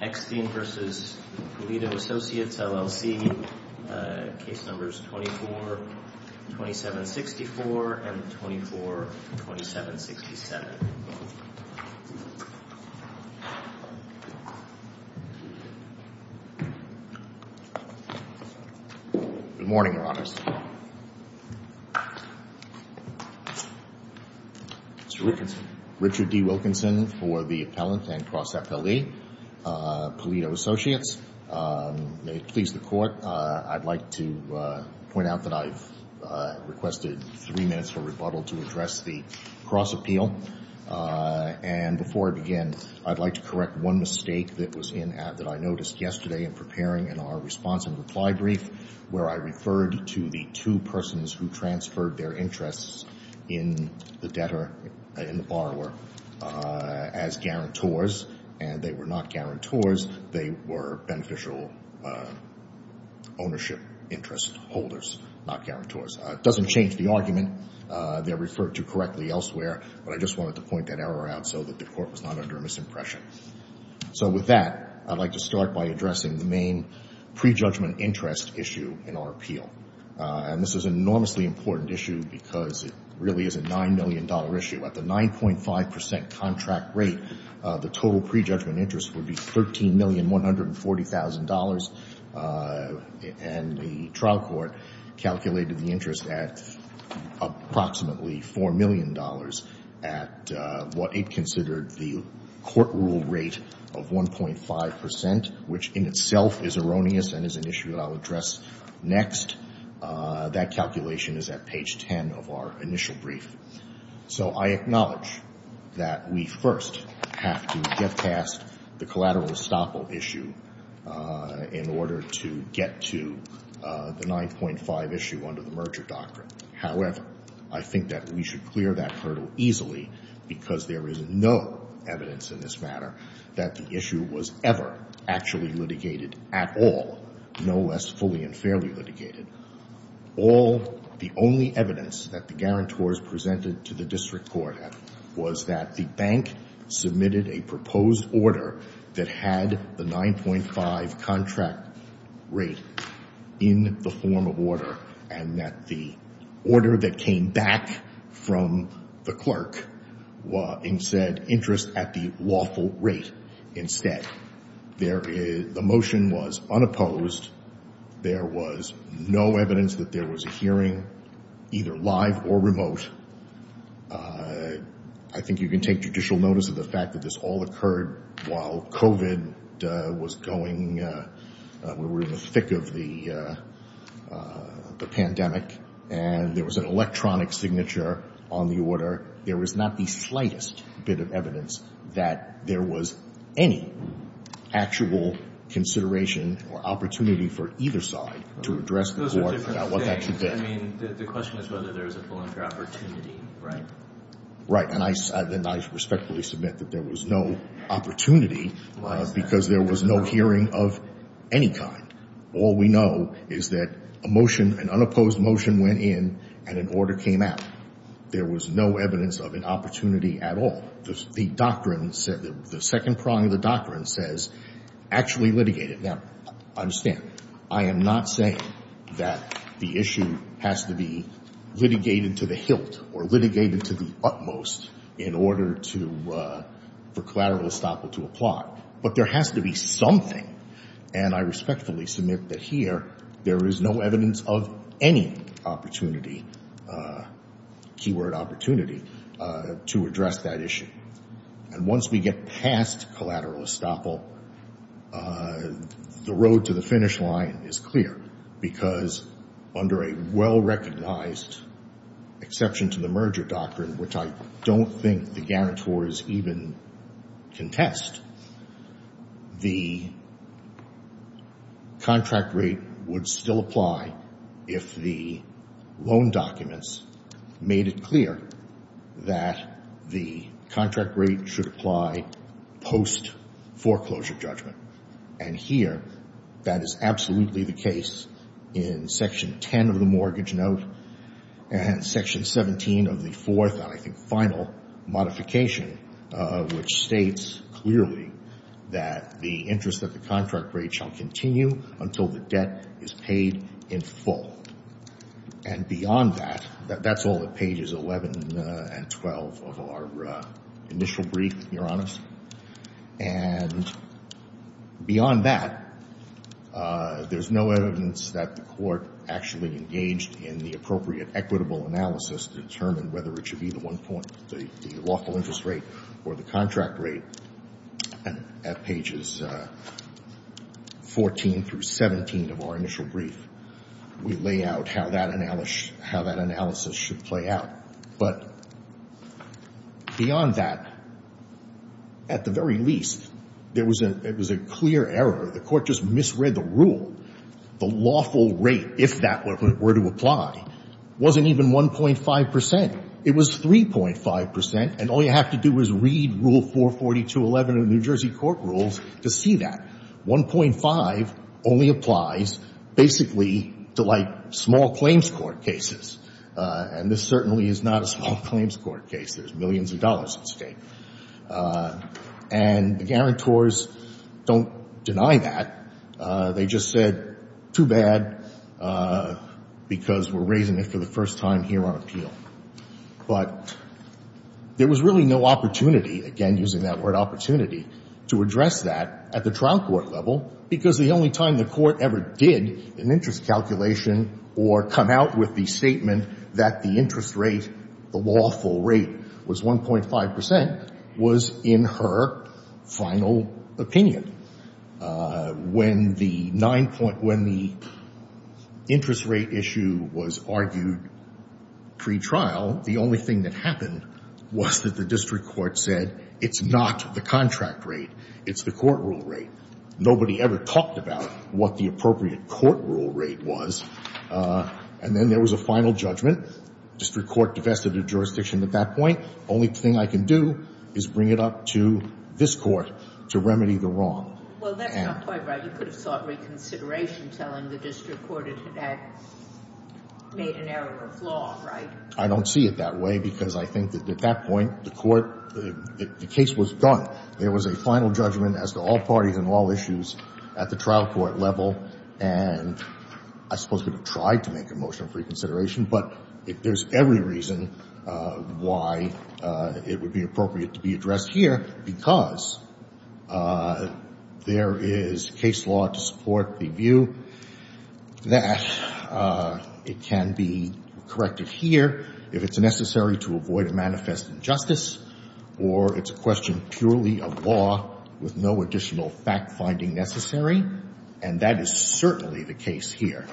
Case Numbers 24-2764 and 24-2767 Good morning, Your Honors. Mr. Wilkinson Richard D. Wilkinson for the Appellant and Appellee, Polito Associates. May it please the Court, I'd like to point out that I've requested three minutes for rebuttal to address the cross-appeal. And before I begin, I'd like to correct one mistake that was in that I noticed yesterday in preparing in our response and reply brief where I referred to the two persons who transferred their interests in the debtor and the borrower as guarantors, and they were not guarantors. They were beneficial ownership interest holders, not guarantors. It doesn't change the argument. They're referred to correctly elsewhere, but I just wanted to point that error out so that the Court was not under a misimpression. So with that, I'd like to start by addressing the main prejudgment interest issue in our appeal. And this is an enormously important issue because it really is a $9 million issue. At the 9.5 percent contract rate, the total prejudgment interest would be $13,140,000. And the trial court calculated the interest at approximately $4 million at what it considered the court rule rate of 1.5 percent, which in itself is erroneous and is an issue that I'll address next. That calculation is at page 10 of our initial brief. So I acknowledge that we first have to get past the collateral estoppel issue in order to get to the 9.5 issue under the merger doctrine. However, I think that we should clear that hurdle easily because there is no evidence in this matter that the issue was ever actually litigated at all, no less fully and fairly litigated. All the only evidence that the guarantors presented to the district court was that the bank submitted a proposed order that had the 9.5 contract rate in the form of order and that the order that came back from the clerk said interest at the lawful rate instead. The motion was unopposed. There was no evidence that there was a hearing, either live or remote. I think you can take judicial notice of the fact that this all occurred while COVID was going, we were in the thick of the pandemic, and there was an electronic signature on the order. However, there was not the slightest bit of evidence that there was any actual consideration or opportunity for either side to address the board about what that should be. Those are different things. I mean, the question is whether there was a full and fair opportunity, right? Right, and I respectfully submit that there was no opportunity because there was no hearing of any kind. All we know is that a motion, an unopposed motion went in and an order came out. There was no evidence of an opportunity at all. The second prong of the doctrine says actually litigated. Now, understand, I am not saying that the issue has to be litigated to the hilt or litigated to the utmost in order for collateral estoppel to apply, but there has to be something, and I respectfully submit that here there is no evidence of any opportunity, keyword opportunity, to address that issue. And once we get past collateral estoppel, the road to the finish line is clear because under a well-recognized exception to the merger doctrine, which I don't think the guarantors even contest, the contract rate would still apply if the loan documents made it clear that the contract rate should apply post-foreclosure judgment. And here, that is absolutely the case in Section 10 of the Mortgage Note and Section 17 of the fourth and, I think, final modification, which states clearly that the interest of the contract rate shall continue until the debt is paid in full. And beyond that, that's all at pages 11 and 12 of our initial brief, Your Honors. And beyond that, there's no evidence that the Court actually engaged in the appropriate equitable analysis to determine whether it should be the one point, the lawful interest rate or the contract rate. And at pages 14 through 17 of our initial brief, we lay out how that analysis should play out. But beyond that, at the very least, there was a clear error. The Court just misread the rule. The lawful rate, if that were to apply, wasn't even 1.5 percent. It was 3.5 percent. And all you have to do is read Rule 442.11 of the New Jersey court rules to see that. 1.5 only applies basically to, like, small claims court cases. And this certainly is not a small claims court case. There's millions of dollars at stake. And the guarantors don't deny that. They just said, too bad, because we're raising it for the first time here on appeal. But there was really no opportunity, again using that word opportunity, to address that at the trial court level, because the only time the Court ever did an interest calculation or come out with the statement that the interest rate, the lawful rate, was 1.5 percent was in her final opinion. When the nine-point, when the interest rate issue was argued pre-trial, the only thing that happened was that the district court said, it's not the contract rate, it's the court rule rate. Nobody ever talked about what the appropriate court rule rate was. And then there was a final judgment. District court divested the jurisdiction at that point. Only thing I can do is bring it up to this Court to remedy the wrong. Well, that's not quite right. You could have sought reconsideration, telling the district court it had made an error of law, right? I don't see it that way, because I think that at that point, the Court, the case was done. There was a final judgment as to all parties and all issues at the trial court level. And I suppose we could have tried to make a motion of reconsideration. But there's every reason why it would be appropriate to be addressed here, because there is case law to support the view that it can be corrected here if it's necessary to avoid a manifest injustice or it's a question purely of law with no additional fact-finding necessary. And that is certainly the case here.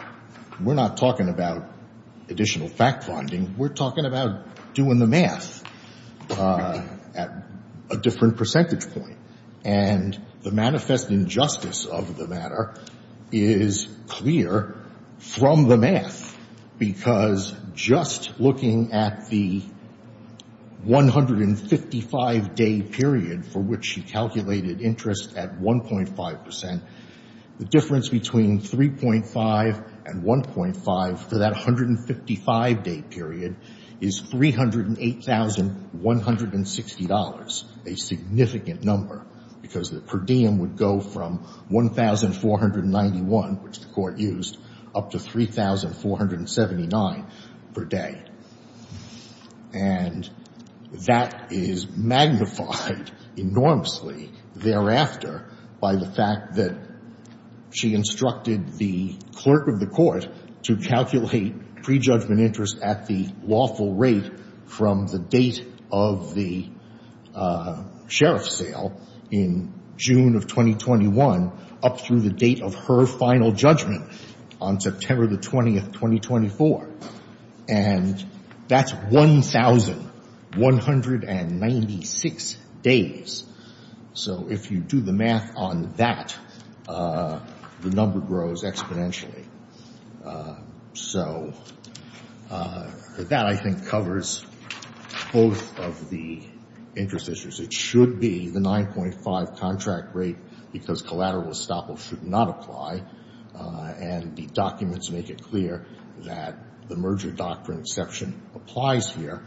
We're not talking about additional fact-finding. We're talking about doing the math at a different percentage point. And the manifest injustice of the matter is clear from the math, because just looking at the 155-day period for which she calculated interest at 1.5 percent, the difference between 3.5 and 1.5 for that 155-day period is $308,160, a significant number, because the per diem would go from $1,491, which the Court used, up to $3,479 per day. And that is magnified enormously thereafter. By the fact that she instructed the clerk of the Court to calculate prejudgment interest at the lawful rate from the date of the sheriff's sale in June of 2021 up through the date of her final judgment on September 20, 2024. And that's 1,196 days. So if you do the math on that, the number grows exponentially. So that, I think, covers both of the interest issues. It should be the 9.5 contract rate, because collateral estoppel should not apply. And the documents make it clear that the merger doctrine exception applies here.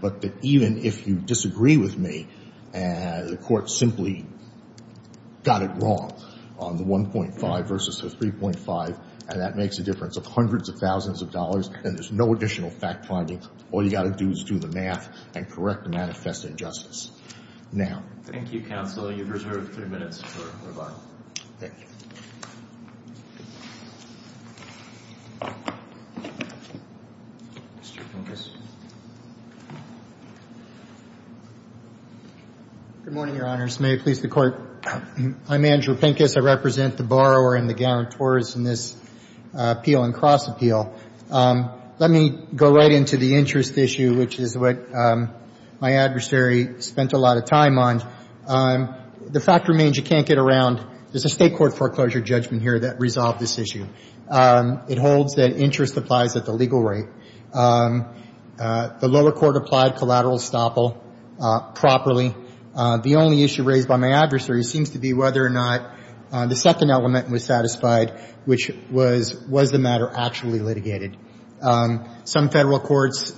But even if you disagree with me, the Court simply got it wrong on the 1.5 versus the 3.5, and that makes a difference of hundreds of thousands of dollars, and there's no additional fact finding. All you've got to do is do the math and correct the manifest injustice. Thank you, Counsel. You've reserved three minutes for rebuttal. Thank you. Mr. Pincus. Good morning, Your Honors. May it please the Court. I'm Andrew Pincus. I represent the borrower and the guarantors in this appeal and cross appeal. Let me go right into the interest issue, which is what my adversary spent a lot of time on. The fact remains, you can't get around, there's a State Court foreclosure judgment here that resolved this issue. It holds that interest applies at the legal rate. The lower court applied collateral estoppel properly. The only issue raised by my adversary seems to be whether or not the second element was satisfied, which was, was the matter actually litigated? Some Federal Courts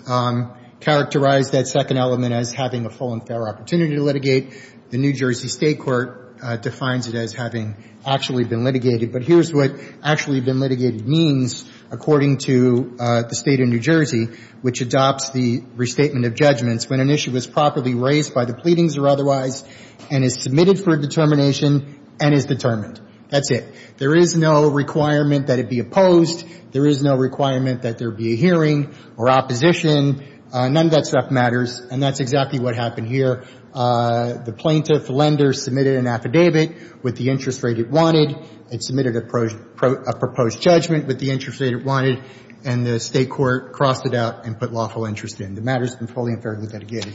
characterized that second element as having a full and fair opportunity to litigate. The New Jersey State Court defines it as having actually been litigated. But here's what actually been litigated means, according to the State of New Jersey, which adopts the restatement of judgments when an issue is properly raised by the pleadings or otherwise and is submitted for determination and is determined. That's it. There is no requirement that it be opposed. There is no requirement that there be a hearing or opposition. None of that stuff matters, and that's exactly what happened here. The plaintiff, the lender, submitted an affidavit with the interest rate it wanted. It submitted a proposed judgment with the interest rate it wanted, and the State court crossed it out and put lawful interest in. The matter's been fully and fairly litigated.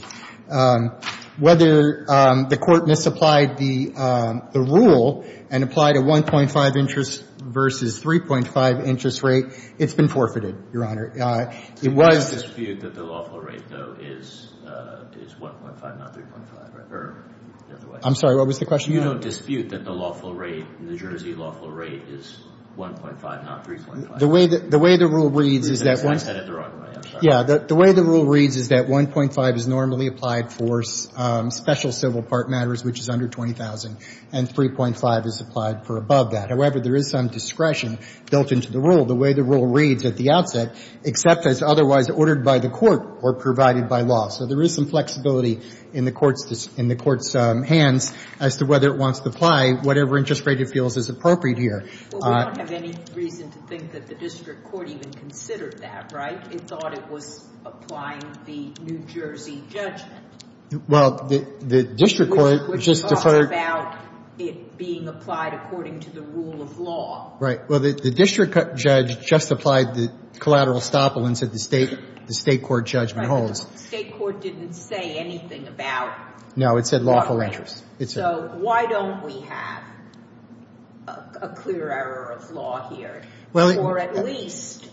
Whether the Court misapplied the rule and applied a 1.5 interest versus 3.5 interest rate, it's been forfeited, Your Honor. It was the State Court's fault. You don't dispute that the lawful rate, though, is 1.5, not 3.5, or the other way around? I'm sorry. What was the question? You don't dispute that the lawful rate, New Jersey lawful rate, is 1.5, not 3.5? The way the rule reads is that 1.5 is normally applied for special civil part matters, which is under 20,000, and 3.5 is applied for above that. However, there is some discretion built into the rule, the way the rule reads at the outset, except as otherwise ordered by the Court or provided by law. So there is some flexibility in the Court's hands as to whether it wants to apply whatever interest rate it feels is appropriate here. Well, we don't have any reason to think that the district court even considered that, right? It thought it was applying the New Jersey judgment. Well, the district court just deferred to the New Jersey judgment. Which talks about it being applied according to the rule of law. Right. Well, the district judge just applied the collateral estoppel and said the state court judgment holds. But the state court didn't say anything about lawful interest. No, it said lawful interest. So why don't we have a clear error of law here? Or at least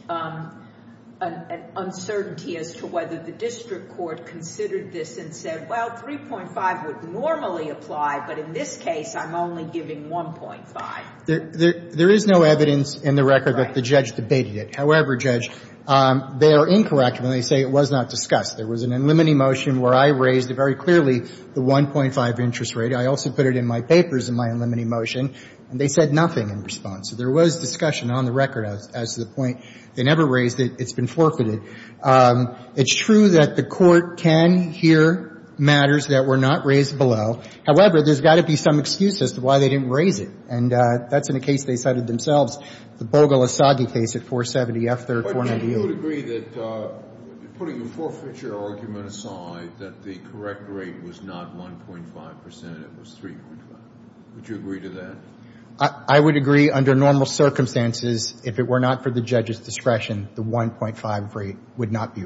an uncertainty as to whether the district court considered this and said, well, 3.5 would normally apply, but in this case, I'm only giving 1.5. There is no evidence in the record that the judge debated it. However, Judge, they are incorrect when they say it was not discussed. There was an unlimiting motion where I raised very clearly the 1.5 interest rate. I also put it in my papers in my unlimiting motion, and they said nothing in response. So there was discussion on the record as to the point. They never raised it. It's been forfeited. It's true that the Court can hear matters that were not raised below. However, there's got to be some excuse as to why they didn't raise it. And that's in a case they cited themselves, the Bogle-Asagi case at 470F, 3rd, 498. But you would agree that, putting the forfeiture argument aside, that the correct rate was not 1.5 percent, it was 3.5. Would you agree to that? I would agree under normal circumstances, if it were not for the judge's discretion, the 1.5 rate would not be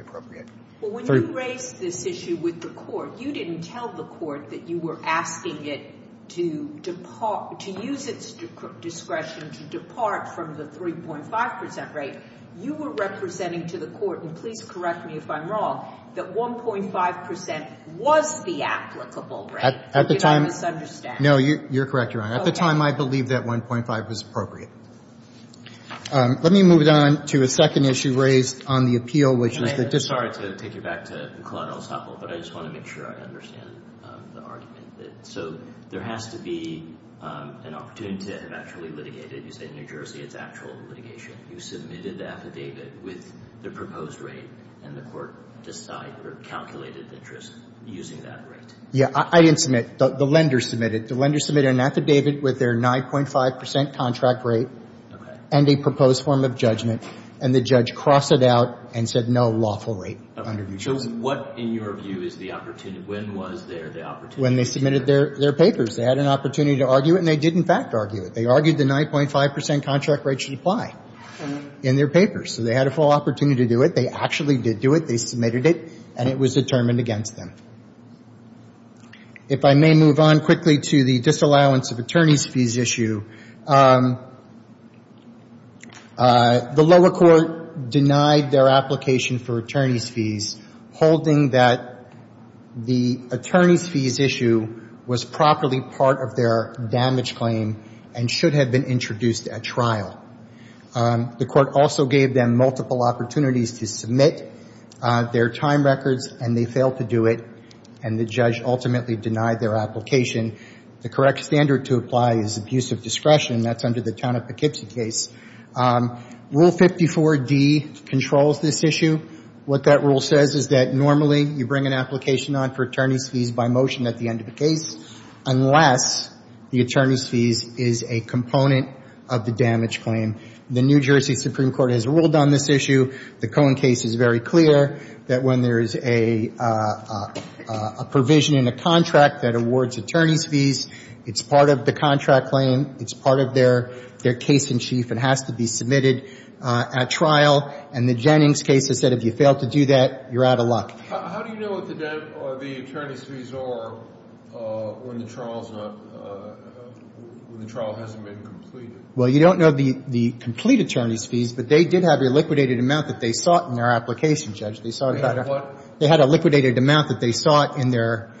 appropriate. Well, when you raised this issue with the Court, you didn't tell the Court that you were asking it to use its discretion to depart from the 3.5 percent rate. You were representing to the Court, and please correct me if I'm wrong, that 1.5 percent was the applicable rate. Did I misunderstand? No, you're correct, Your Honor. At the time, I believed that 1.5 was appropriate. Let me move on to a second issue raised on the appeal, which is the dis- Sorry to take you back to the collateral sample, but I just want to make sure I understand the argument. So there has to be an opportunity to have actually litigated. You say New Jersey, it's actual litigation. You submitted the affidavit with the proposed rate, and the Court decided or calculated the interest using that rate. Yeah, I didn't submit. The lender submitted. The lender submitted an affidavit with their 9.5 percent contract rate and a proposed form of judgment, and the judge crossed it out and said no lawful rate under New Jersey. So what, in your view, is the opportunity? When was there the opportunity? When they submitted their papers. They had an opportunity to argue it, and they did, in fact, argue it. They argued the 9.5 percent contract rate should apply in their papers. So they had a full opportunity to do it. They actually did do it. They submitted it, and it was determined against them. If I may move on quickly to the disallowance of attorneys' fees issue, the lower court denied their application for attorneys' fees, holding that the attorneys' fees issue was properly part of their damage claim and should have been introduced at trial. The Court also gave them multiple opportunities to submit their time records, and they failed to do it, and the judge ultimately denied their application. The correct standard to apply is abuse of discretion. That's under the Town of Poughkeepsie case. Rule 54D controls this issue. What that rule says is that normally you bring an application on for attorneys' fees by motion at the end of the case unless the attorneys' fees is a component of the damage claim. The New Jersey Supreme Court has ruled on this issue. The Cohen case is very clear that when there is a provision in a contract that awards attorneys' fees, it's part of the contract claim. It's part of their case in chief and has to be submitted at trial. And the Jennings case has said if you fail to do that, you're out of luck. How do you know what the attorneys' fees are when the trial hasn't been completed? Well, you don't know the complete attorneys' fees, but they did have a liquidated amount that they sought in their application, Judge. They had a liquidated amount that they sought in their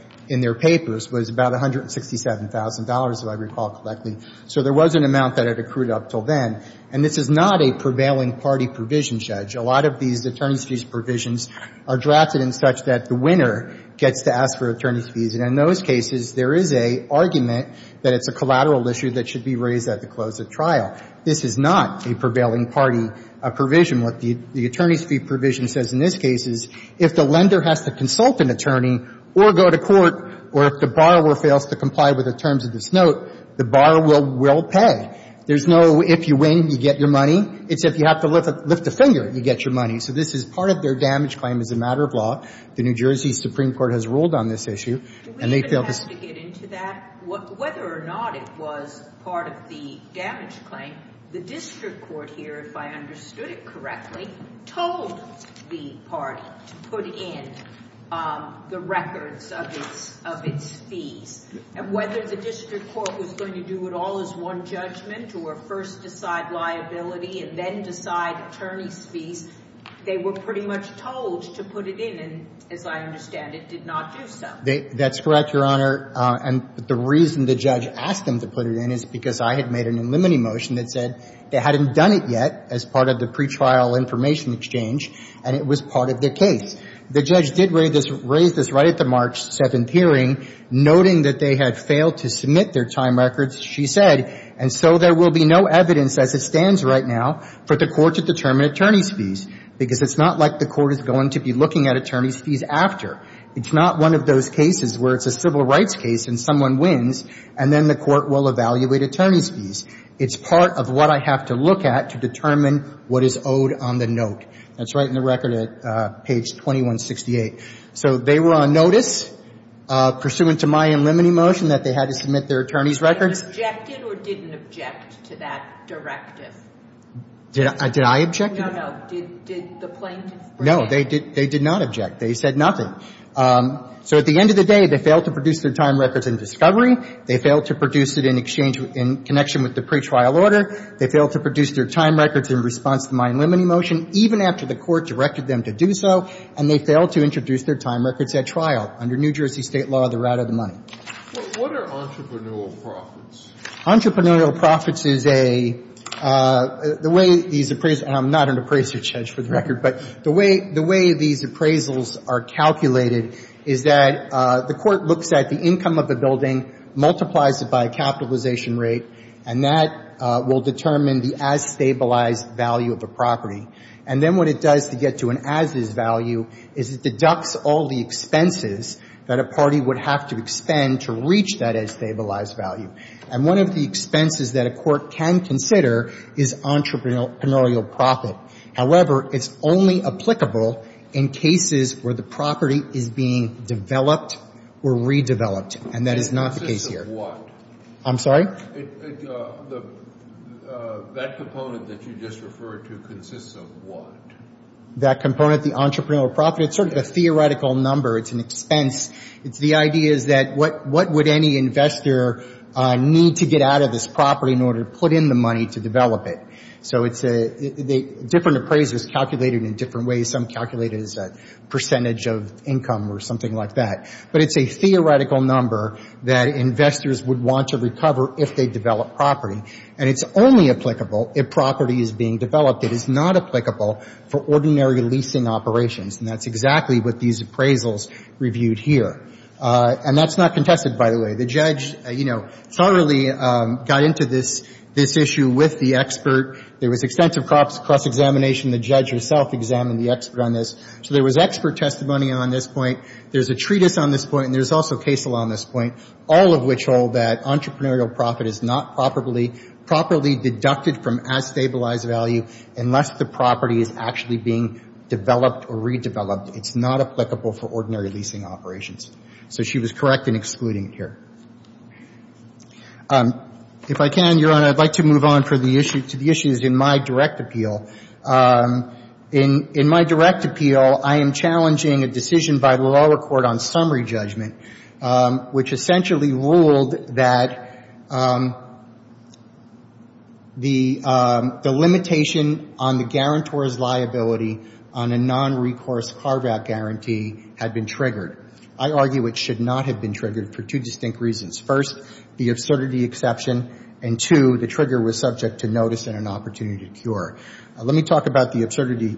papers, was about $167,000, if I recall correctly. So there was an amount that had accrued up until then. And this is not a prevailing party provision, Judge. A lot of these attorneys' fees provisions are drafted in such that the winner gets to ask for attorneys' fees. And in those cases, there is a argument that it's a collateral issue that should be raised at the close of trial. This is not a prevailing party provision. What the attorneys' fee provision says in this case is if the lender has to consult an attorney or go to court or if the borrower fails to comply with the terms of the case, note, the borrower will pay. There's no if you win, you get your money. It's if you have to lift a finger, you get your money. So this is part of their damage claim as a matter of law. The New Jersey Supreme Court has ruled on this issue. And they failed to say that. Do we even have to get into that, whether or not it was part of the damage claim? The district court here, if I understood it correctly, told the party to put in the records of its fees. And whether the district court was going to do it all as one judgment or first decide liability and then decide attorneys' fees, they were pretty much told to put it in. And as I understand it, did not do so. That's correct, Your Honor. And the reason the judge asked them to put it in is because I had made an eliminating motion that said they hadn't done it yet as part of the pretrial information exchange, and it was part of the case. The judge did raise this right at the March 7th hearing, noting that they had failed to submit their time records, she said, and so there will be no evidence as it stands right now for the court to determine attorneys' fees. Because it's not like the court is going to be looking at attorneys' fees after. It's not one of those cases where it's a civil rights case and someone wins, and then the court will evaluate attorneys' fees. It's part of what I have to look at to determine what is owed on the note. That's right in the record at page 2168. So they were on notice pursuant to my eliminating motion that they had to submit their attorneys' records. They objected or didn't object to that directive? Did I object? No, no. Did the plaintiffs? No, they did not object. They said nothing. So at the end of the day, they failed to produce their time records in discovery. They failed to produce it in exchange in connection with the pretrial order. They failed to produce their time records in response to my eliminating motion, even after the court directed them to do so, and they failed to introduce their time records at trial under New Jersey State law, the route of the money. What are entrepreneurial profits? Entrepreneurial profits is a — the way these appraisals — and I'm not an appraiser, Judge, for the record. But the way these appraisals are calculated is that the court looks at the income of the building, multiplies it by a capitalization rate, and that will determine the as-stabilized value of the property. And then what it does to get to an as-is value is it deducts all the expenses that a party would have to expend to reach that as-stabilized value. And one of the expenses that a court can consider is entrepreneurial profit. However, it's only applicable in cases where the property is being developed or redeveloped, and that is not the case here. It consists of what? I'm sorry? That component that you just referred to consists of what? That component, the entrepreneurial profit, it's sort of a theoretical number. It's an expense. It's the idea is that what would any investor need to get out of this property in order to put in the money to develop it? So it's a — different appraisers calculate it in different ways. Some calculate it as a percentage of income or something like that. But it's a theoretical number that investors would want to recover if they develop property. And it's only applicable if property is being developed. It is not applicable for ordinary leasing operations. And that's exactly what these appraisals reviewed here. And that's not contested, by the way. The judge, you know, thoroughly got into this issue with the expert. There was extensive cross-examination. The judge herself examined the expert on this. So there was expert testimony on this point. There's a treatise on this point, and there's also case law on this point, all of which hold that entrepreneurial profit is not properly — properly deducted from as-stabilized value unless the property is actually being developed or redeveloped. It's not applicable for ordinary leasing operations. So she was correct in excluding it here. If I can, Your Honor, I'd like to move on for the issue — to the issues in my direct appeal. In my direct appeal, I am challenging a decision by the lower court on summary judgment, which essentially ruled that the limitation on the guarantor's liability on a non-recourse carve-out guarantee had been triggered. I argue it should not have been triggered for two distinct reasons. First, the absurdity exception. And two, the trigger was subject to notice and an opportunity to cure. Let me talk about the absurdity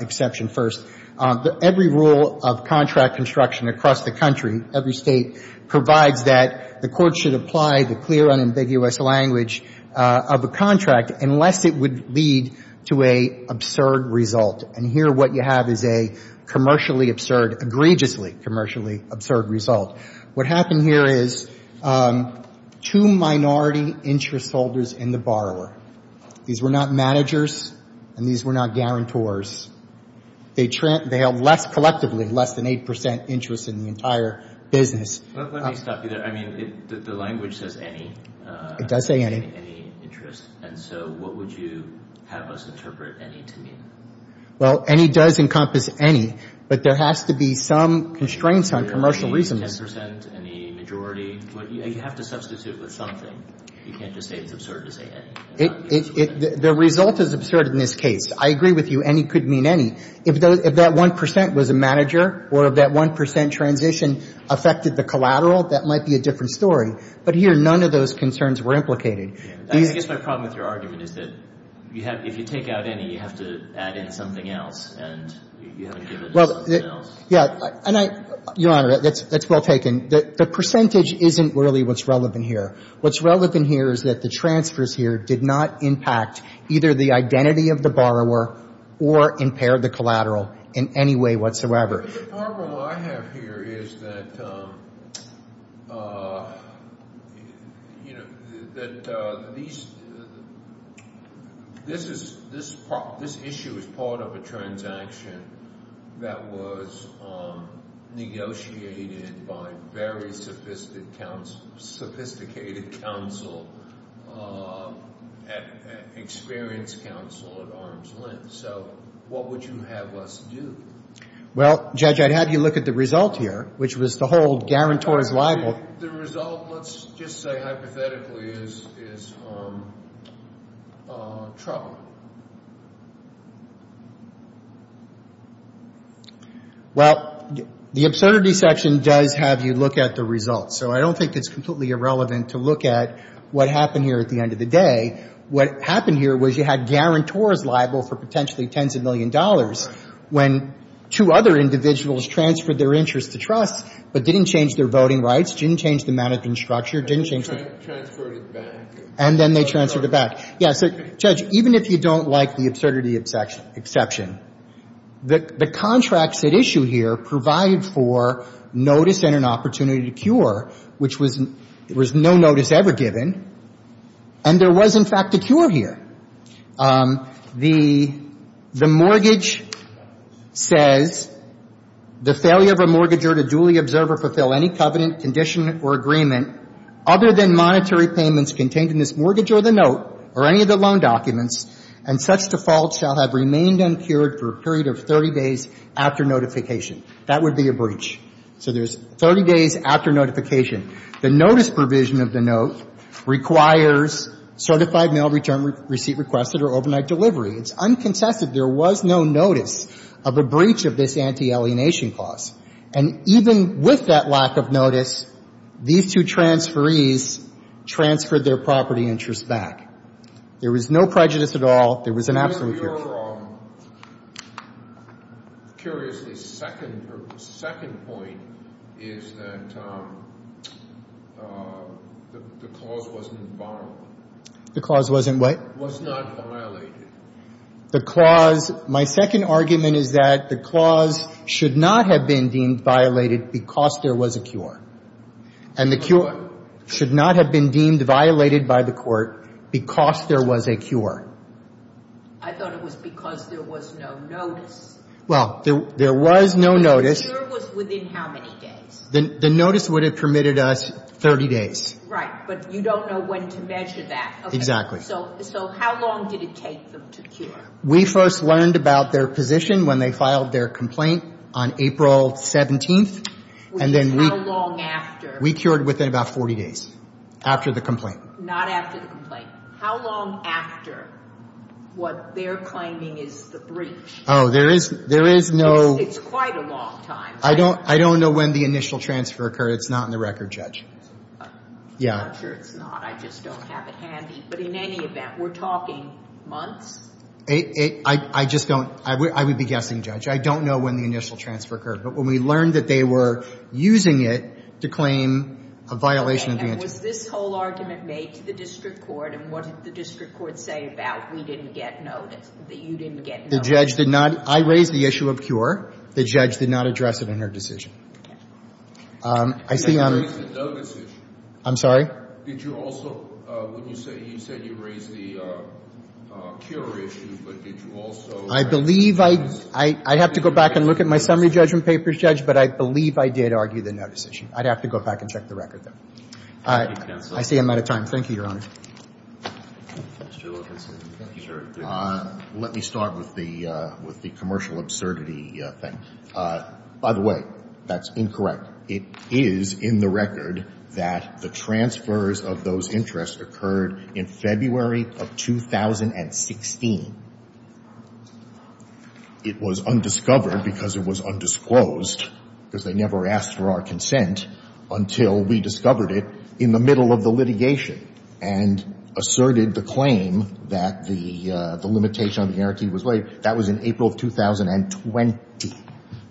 exception first. Every rule of contract construction across the country, every State, provides that the court should apply the clear, unambiguous language of a contract unless it would lead to a absurd result. And here, what you have is a commercially absurd — egregiously commercially absurd result. What happened here is two minority interest holders in the borrower. These were not managers, and these were not guarantors. They held less — collectively, less than 8 percent interest in the entire business. Let me stop you there. I mean, the language says any. It does say any. Any interest. And so what would you have us interpret any to mean? Well, any does encompass any. But there has to be some constraints on commercial reason. Any 10 percent? Any majority? You have to substitute with something. You can't just say it's absurd to say any. The result is absurd in this case. I agree with you. Any could mean any. If that 1 percent was a manager or if that 1 percent transition affected the collateral, that might be a different story. But here, none of those concerns were implicated. I guess my problem with your argument is that you have — if you take out any, you have to add in something else, and you haven't given us something else. Yeah. And I — Your Honor, that's well taken. The percentage isn't really what's relevant here. What's relevant here is that the transfers here did not impact either the identity of the borrower or impair the collateral in any way whatsoever. The problem I have here is that, you know, that these — this is — this issue is part of a transaction that was negotiated by very sophisticated counsel, sophisticated counsel, experienced counsel at arm's length. So what would you have us do? Well, Judge, I'd have you look at the result here, which was the whole guarantor is liable. The result, let's just say hypothetically, is — is troubling. Well, the absurdity section does have you look at the results. So I don't think it's completely irrelevant to look at what happened here at the end of the day. What happened here was you had guarantor is liable for potentially tens of million dollars when two other individuals transferred their interest to trusts, but didn't change their voting rights, didn't change the mannequin structure, didn't change the — Transferred it back. And then they transferred it back. Yes. Judge, even if you don't like the absurdity exception, the contracts at issue here provide for notice and an opportunity to cure, which was — there was no notice ever given. And there was, in fact, a cure here. The mortgage says, the failure of a mortgagor to duly observe or fulfill any covenant, condition, or agreement other than monetary payments contained in this mortgage or the note or any of the loan documents and such default shall have remained uncured for a period of 30 days after notification. That would be a breach. So there's 30 days after notification. The notice provision of the note requires certified mail return receipt requested or overnight delivery. It's uncontested. There was no notice of a breach of this anti-alienation clause. And even with that lack of notice, these two transferees transferred their property interest back. There was no prejudice at all. There was an absolute cure. My second argument is that the clause should not have been deemed violated because there was a cure. And the cure should not have been deemed violated by the court because there was a cure. I thought it was because there was no notice. Well, there was no notice. The cure was within how many days? The notice would have permitted us 30 days. Right, but you don't know when to measure that. Exactly. So how long did it take them to cure? We first learned about their position when they filed their complaint on April 17th. Which is how long after? We cured within about 40 days after the complaint. Not after the complaint. How long after what they're claiming is the breach? Oh, there is no. It's quite a long time. I don't know when the initial transfer occurred. It's not in the record, Judge. I'm not sure it's not. I just don't have it handy. But in any event, we're talking months? I just don't. I would be guessing, Judge. I don't know when the initial transfer occurred. But when we learned that they were using it to claim a violation of the interest. Was this whole argument made to the district court? And what did the district court say about we didn't get notice, that you didn't get notice? The judge did not. I raised the issue of cure. The judge did not address it in her decision. I see. You raised the notice issue. I'm sorry? Did you also, when you said you raised the cure issue, but did you also? I believe I'd have to go back and look at my summary judgment papers, Judge. But I believe I did argue the notice issue. I'd have to go back and check the record, though. I see I'm out of time. Thank you, Your Honor. Let me start with the commercial absurdity thing. By the way, that's incorrect. It is in the record that the transfers of those interests occurred in February of 2016. It was undiscovered because it was undisclosed because they never asked for our consent until we discovered it in the middle of the litigation and asserted the claim that the limitation on the guarantee was laid. That was in April of 2020.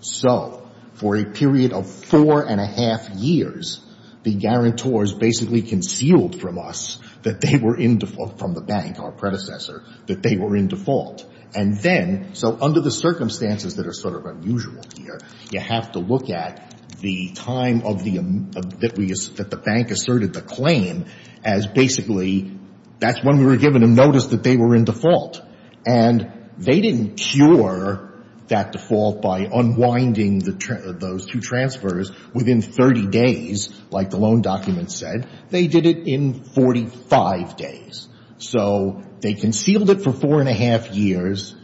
So for a period of four and a half years, the guarantors basically concealed from us that they were in default, from the bank, our predecessor, that they were in default. So under the circumstances that are sort of unusual here, you have to look at the time that the bank asserted the claim as basically that's when we were given a notice that they were in default. And they didn't cure that default by unwinding those two transfers within 30 days, like the loan document said. They did it in 45 days. So they concealed it for four and a half years.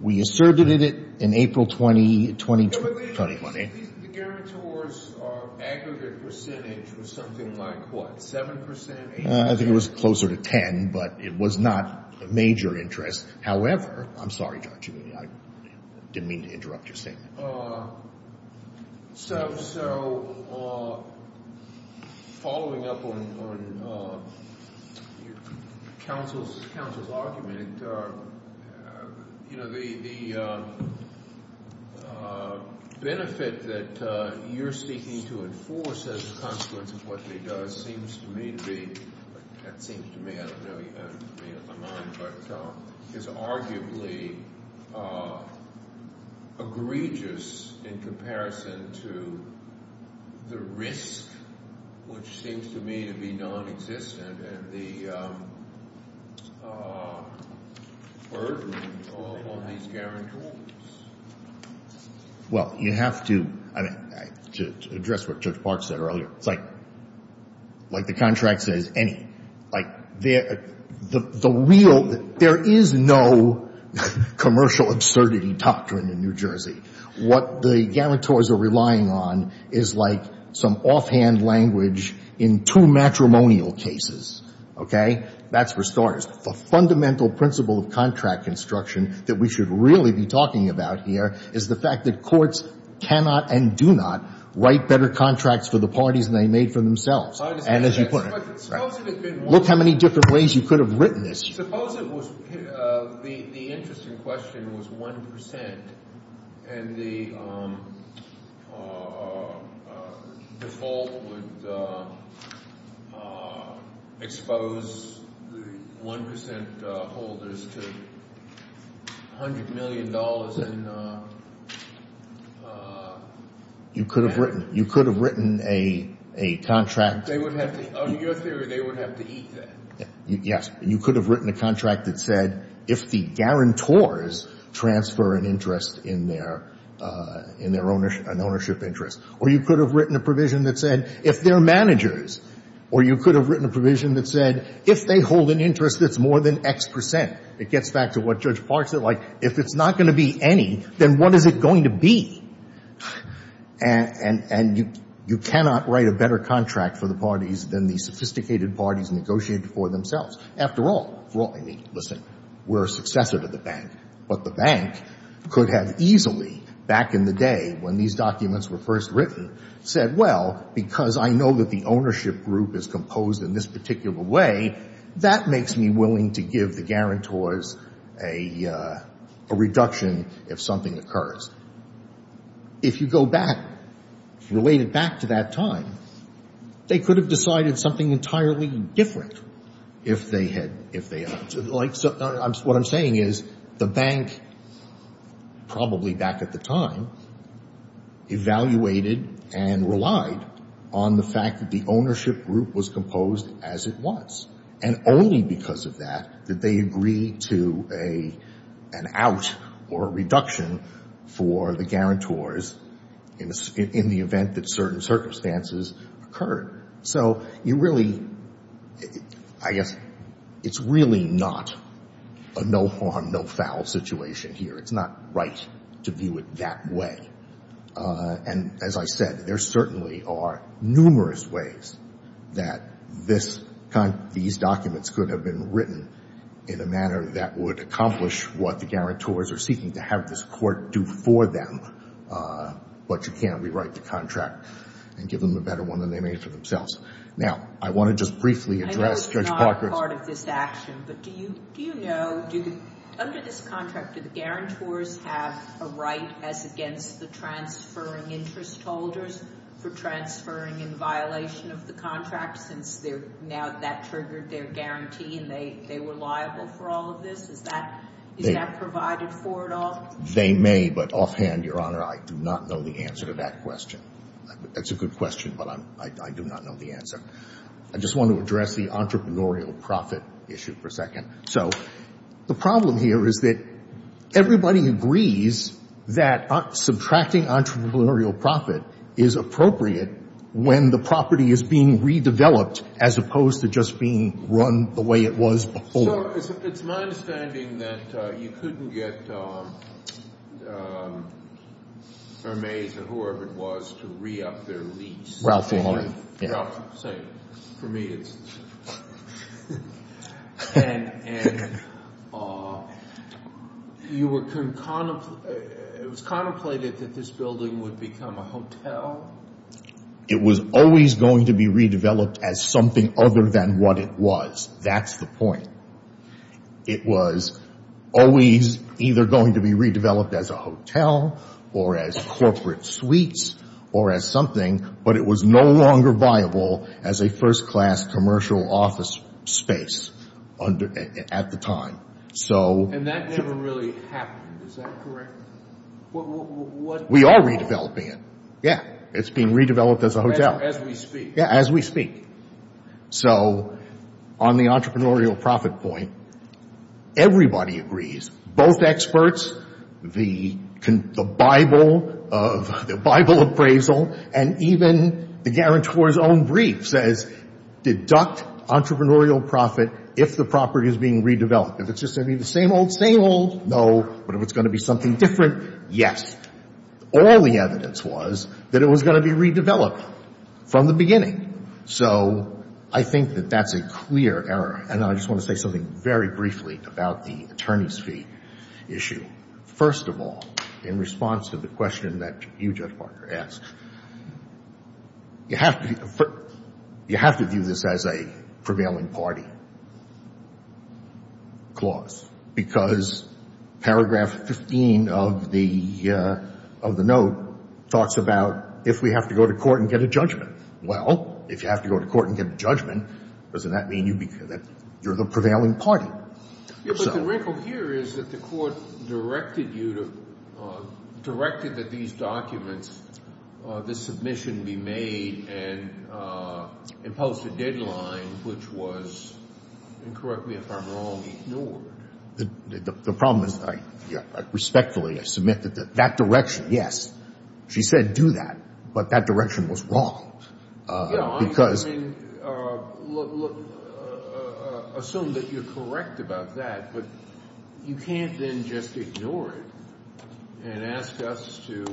We asserted it in April 2020. The guarantor's aggregate percentage was something like what, 7 percent? I think it was closer to 10, but it was not a major interest. However, I'm sorry, Judge, I didn't mean to interrupt your statement. So following up on your counsel's argument, the benefit that you're seeking to enforce as a consequence of what they do seems to me to be – that seems to me, I don't know if you have it in your mind, but is arguably egregious in comparison to the risk, which seems to me to be nonexistent, and the burden on these guarantors. Well, you have to – to address what Judge Park said earlier. It's like the contract says, any. Like, the real – there is no commercial absurdity doctrine in New Jersey. What the guarantors are relying on is like some offhand language in two matrimonial cases. Okay? That's for starters. The fundamental principle of contract construction that we should really be talking about here is the fact that courts cannot and do not write better contracts for the parties than they made for themselves. And as you put it – look how many different ways you could have written this. Suppose it was – the interesting question was 1% and the default would expose the 1% holders to $100 million in – You could have written – you could have written a contract. They would have to – in your theory, they would have to eat that. Yes. You could have written a contract that said, if the guarantors transfer an interest in their – in their ownership – an ownership interest. Or you could have written a provision that said, if their managers – or you could have written a provision that said, if they hold an interest that's more than X percent. It gets back to what Judge Park said. Like, if it's not going to be any, then what is it going to be? And you cannot write a better contract for the parties than the sophisticated parties negotiated for themselves. After all, listen, we're a successor to the bank. But the bank could have easily, back in the day when these documents were first written, said, well, because I know that the ownership group is composed in this particular way, that makes me willing to give the guarantors a reduction if something occurs. If you go back, if you relate it back to that time, they could have decided something entirely different if they had – if they – like, what I'm saying is the bank, probably back at the time, evaluated and relied on the fact that the ownership group was composed as it was. And only because of that did they agree to an out or a reduction for the guarantors in the event that certain circumstances occurred. So you really – I guess it's really not a no-harm, no-foul situation here. It's not right to view it that way. And as I said, there certainly are numerous ways that this – these documents could have been written in a manner that would accomplish what the guarantors are seeking to have this court do for them. But you can't rewrite the contract and give them a better one than they made for themselves. Now, I want to just briefly address Judge Parker's – Do the guarantors have a right as against the transferring interest holders for transferring in violation of the contract since they're – now that triggered their guarantee and they were liable for all of this? Is that – is that provided for at all? They may, but offhand, Your Honor, I do not know the answer to that question. That's a good question, but I do not know the answer. I just want to address the entrepreneurial profit issue for a second. So the problem here is that everybody agrees that subtracting entrepreneurial profit is appropriate when the property is being redeveloped as opposed to just being run the way it was before. So it's my understanding that you couldn't get Hermes or whoever it was to re-up their lease. Ralph, Your Honor. Ralph, same. For me, it's – and you were – it was contemplated that this building would become a hotel. It was always going to be redeveloped as something other than what it was. That's the point. It was always either going to be redeveloped as a hotel or as corporate suites or as something, but it was no longer viable as a first-class commercial office space at the time. And that never really happened. Is that correct? We are redeveloping it. Yeah. It's being redeveloped as a hotel. As we speak. Yeah, as we speak. So on the entrepreneurial profit point, everybody agrees. Both experts, the Bible of – the Bible appraisal and even the guarantor's own brief says deduct entrepreneurial profit if the property is being redeveloped. If it's just going to be the same old, same old, no. But if it's going to be something different, yes. All the evidence was that it was going to be redeveloped from the beginning. So I think that that's a clear error. And I just want to say something very briefly about the attorney's fee issue. First of all, in response to the question that you, Judge Parker, asked, you have to view this as a prevailing party clause because paragraph 15 of the note talks about if we have to go to court and get a judgment. Well, if you have to go to court and get a judgment, doesn't that mean that you're the prevailing party? Yeah, but the wrinkle here is that the court directed you to – directed that these documents, this submission, be made and imposed a deadline, which was, and correct me if I'm wrong, ignored. The problem is, respectfully, I submit that that direction, yes, she said do that. But that direction was wrong because – I mean, look, assume that you're correct about that. But you can't then just ignore it and ask us to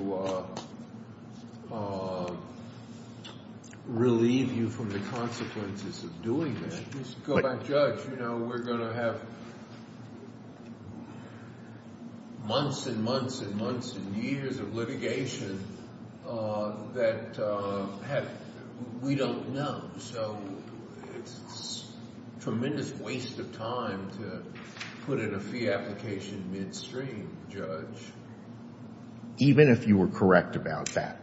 relieve you from the consequences of doing that. Just go back, Judge. You know, we're going to have months and months and months and years of litigation that we don't know. So it's a tremendous waste of time to put in a fee application midstream, Judge. Even if you were correct about that,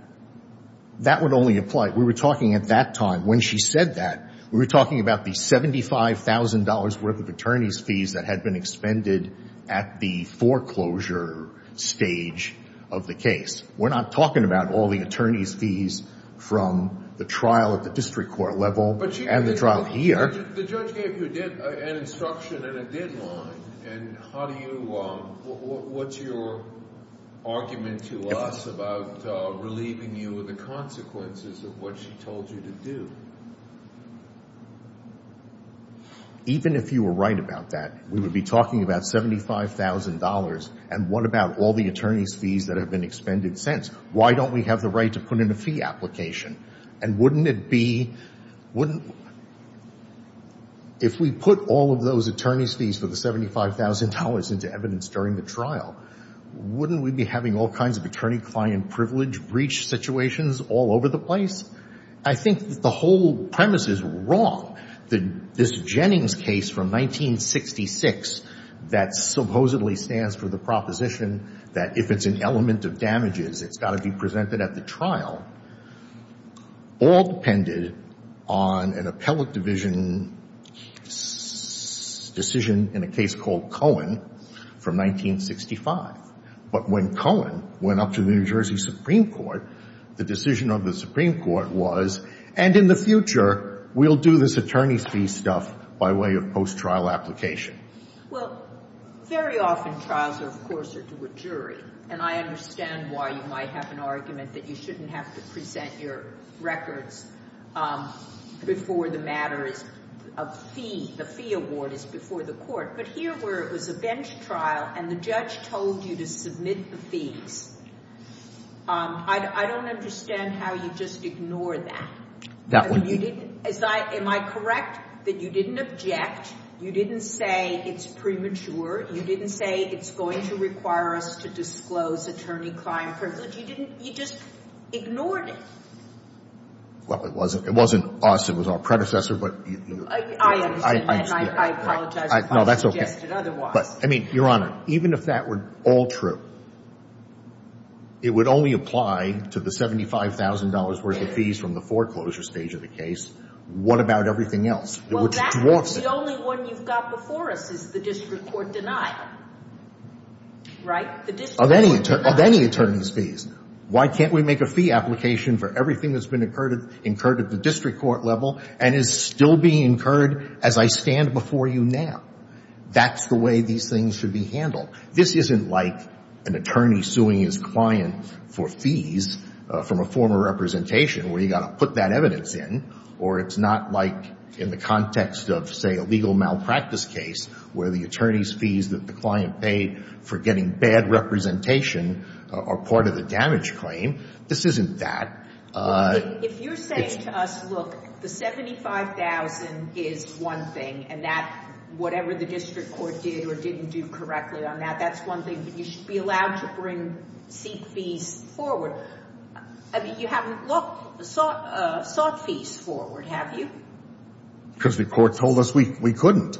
that would only apply – we were talking at that time. When she said that, we were talking about the $75,000 worth of attorney's fees that had been expended at the foreclosure stage of the case. We're not talking about all the attorney's fees from the trial at the district court level and the trial here. The judge gave you an instruction and a deadline. And how do you – what's your argument to us about relieving you of the consequences of what she told you to do? Even if you were right about that, we would be talking about $75,000. And what about all the attorney's fees that have been expended since? Why don't we have the right to put in a fee application? And wouldn't it be – if we put all of those attorney's fees for the $75,000 into evidence during the trial, wouldn't we be having all kinds of attorney-client privilege breach situations all over the place? I think that the whole premise is wrong. This Jennings case from 1966 that supposedly stands for the proposition that if it's an element of damages, it's got to be presented at the trial, all depended on an appellate division decision in a case called Cohen from 1965. But when Cohen went up to the New Jersey Supreme Court, the decision of the Supreme Court was, and in the future, we'll do this attorney's fees stuff by way of post-trial application. Well, very often trials, of course, are to a jury. And I understand why you might have an argument that you shouldn't have to present your records before the matter is a fee. The fee award is before the court. But here where it was a bench trial and the judge told you to submit the fees, I don't understand how you just ignore that. Am I correct that you didn't object? You didn't say it's premature. You didn't say it's going to require us to disclose attorney-client privilege. You just ignored it. Well, it wasn't us. It was our predecessor. I understand that, and I apologize if I suggested otherwise. I mean, Your Honor, even if that were all true, it would only apply to the $75,000 worth of fees from the foreclosure stage of the case. What about everything else? Well, that's the only one you've got before us is the district court denial, right? Of any attorney's fees. Why can't we make a fee application for everything that's been incurred at the district court level and is still being incurred as I stand before you now? That's the way these things should be handled. This isn't like an attorney suing his client for fees from a former representation where you've got to put that evidence in, or it's not like in the context of, say, a legal malpractice case where the attorney's fees that the client paid for getting bad representation are part of the damage claim. This isn't that. If you're saying to us, look, the $75,000 is one thing, and that whatever the district court did or didn't do correctly on that, that's one thing, but you should be allowed to bring seat fees forward. I mean, you haven't sought fees forward, have you? Because the court told us we couldn't.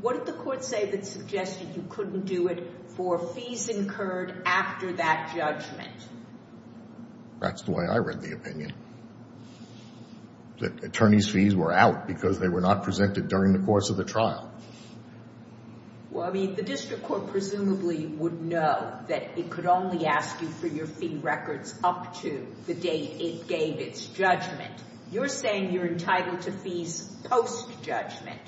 What did the court say that suggested you couldn't do it for fees incurred after that judgment? That's the way I read the opinion, that attorney's fees were out because they were not presented during the course of the trial. Well, I mean, the district court presumably would know that it could only ask you for your fee records up to the date it gave its judgment. You're saying you're entitled to fees post-judgment,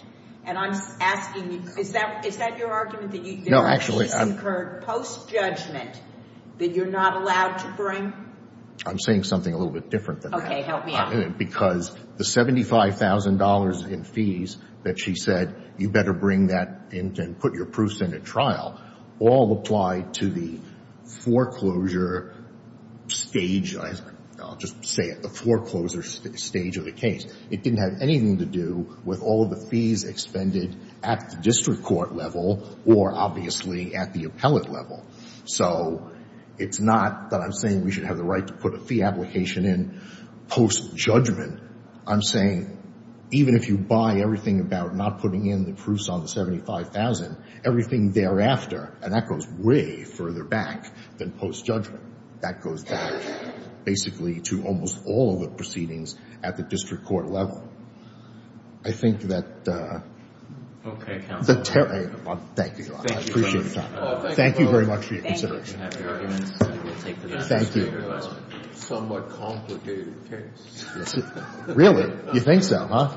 and I'm asking you, is that your argument? No, actually, I'm— Fees incurred post-judgment that you're not allowed to bring? I'm saying something a little bit different than that. Okay, help me out. Because the $75,000 in fees that she said, you better bring that and put your proofs in at trial, all applied to the foreclosure stage. I'll just say it, the foreclosure stage of the case. It didn't have anything to do with all of the fees expended at the district court level or, obviously, at the appellate level. So it's not that I'm saying we should have the right to put a fee application in post-judgment. I'm saying even if you buy everything about not putting in the proofs on the $75,000, everything thereafter, and that goes way further back than post-judgment. That goes back, basically, to almost all of the proceedings at the district court level. I think that— Okay, counsel. Thank you. I appreciate your time. Thank you very much for your consideration. Thank you. Somewhat complicated case. Really? You think so, huh?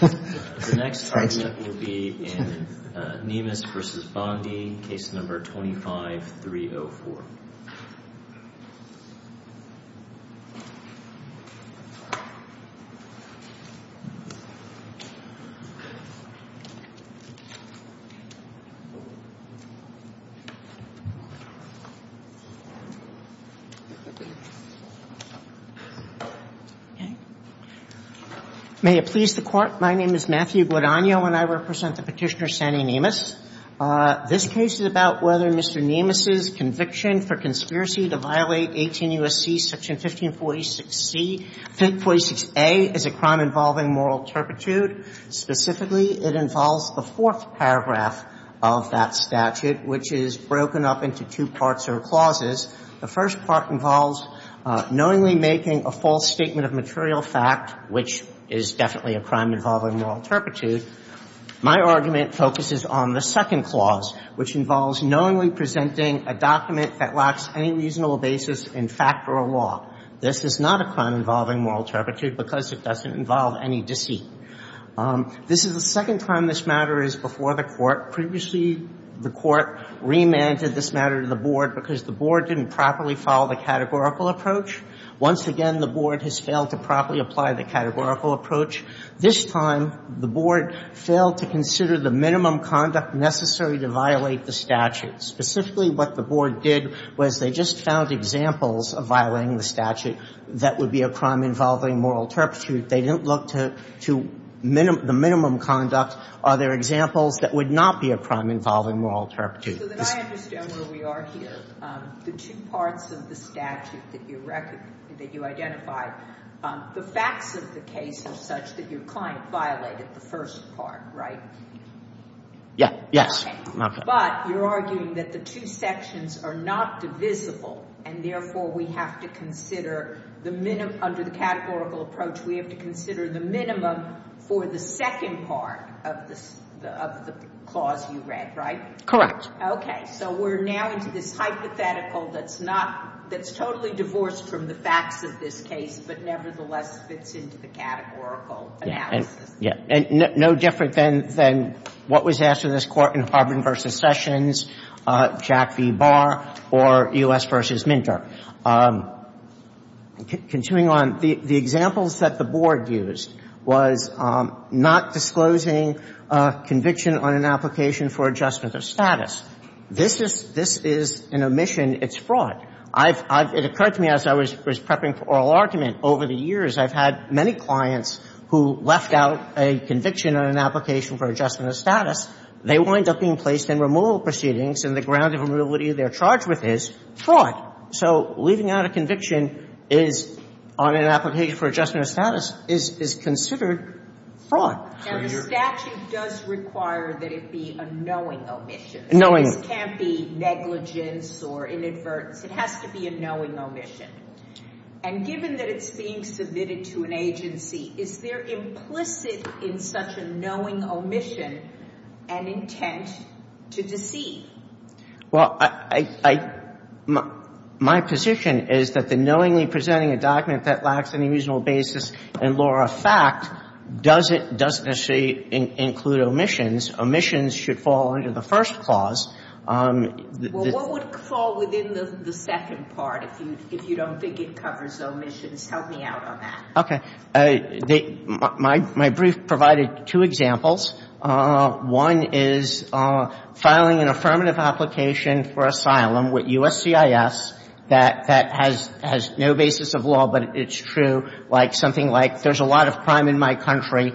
The next argument will be in Niemus v. Bondi, case number 25-304. Okay. May it please the Court, my name is Matthew Guadagno, and I represent the petitioner, Sandy Niemus. This case is about whether Mr. Niemus' conviction for conspiracy to violate 18 U.S.C. section 1546C, 1546A, is a crime involving moral turpitude. Specifically, it involves the fourth paragraph of that statute, which is broken up into two parts or clauses. The first part involves knowingly making a false statement of material fact, which is definitely a crime involving moral turpitude. My argument focuses on the second clause, which involves knowingly presenting a document that lacks any reasonable basis in fact or law. This is not a crime involving moral turpitude because it doesn't involve any deceit. This is the second time this matter is before the Court. Previously, the Court remanded this matter to the Board because the Board didn't properly follow the categorical approach. Once again, the Board has failed to properly apply the categorical approach. This time, the Board failed to consider the minimum conduct necessary to violate the statute. Specifically, what the Board did was they just found examples of violating the statute that would be a crime involving moral turpitude. They didn't look to the minimum conduct. Are there examples that would not be a crime involving moral turpitude? So then I understand where we are here. The two parts of the statute that you identified, the facts of the case are such that your client violated the first part, right? Yeah. Yes. Okay. But you're arguing that the two sections are not divisible, and therefore we have to consider the minimum. Under the categorical approach, we have to consider the minimum for the second part of the clause you read, right? Correct. Okay. So we're now into this hypothetical that's not, that's totally divorced from the facts of this case, but nevertheless fits into the categorical analysis. Yeah. And no different than what was asked of this Court in Harbin v. Sessions, Jack v. Barr, or U.S. v. Minter. Continuing on, the examples that the Board used was not disclosing conviction on an application for adjustment of status. This is, this is an omission. It's fraud. I've, I've, it occurred to me as I was prepping for oral argument over the years, I've had many clients who left out a conviction on an application for adjustment of status. They wind up being placed in removal proceedings, and the ground of immobility they're charged with is fraud. So leaving out a conviction is, on an application for adjustment of status, is considered fraud. And a statute does require that it be a knowing omission. Knowing. This can't be negligence or inadvertence. It has to be a knowing omission. And given that it's being submitted to an agency, is there implicit in such a knowing omission an intent to deceive? Well, I, I, my, my position is that the knowingly presenting a document that lacks any reasonable basis in law or fact doesn't, doesn't necessarily include omissions. Omissions should fall under the first clause. Well, what would fall within the second part if you, if you don't think it covers omissions? Help me out on that. Okay. They, my, my brief provided two examples. One is filing an affirmative application for asylum with USCIS that, that has, has no basis of law, but it's true. Like, something like, there's a lot of crime in my country,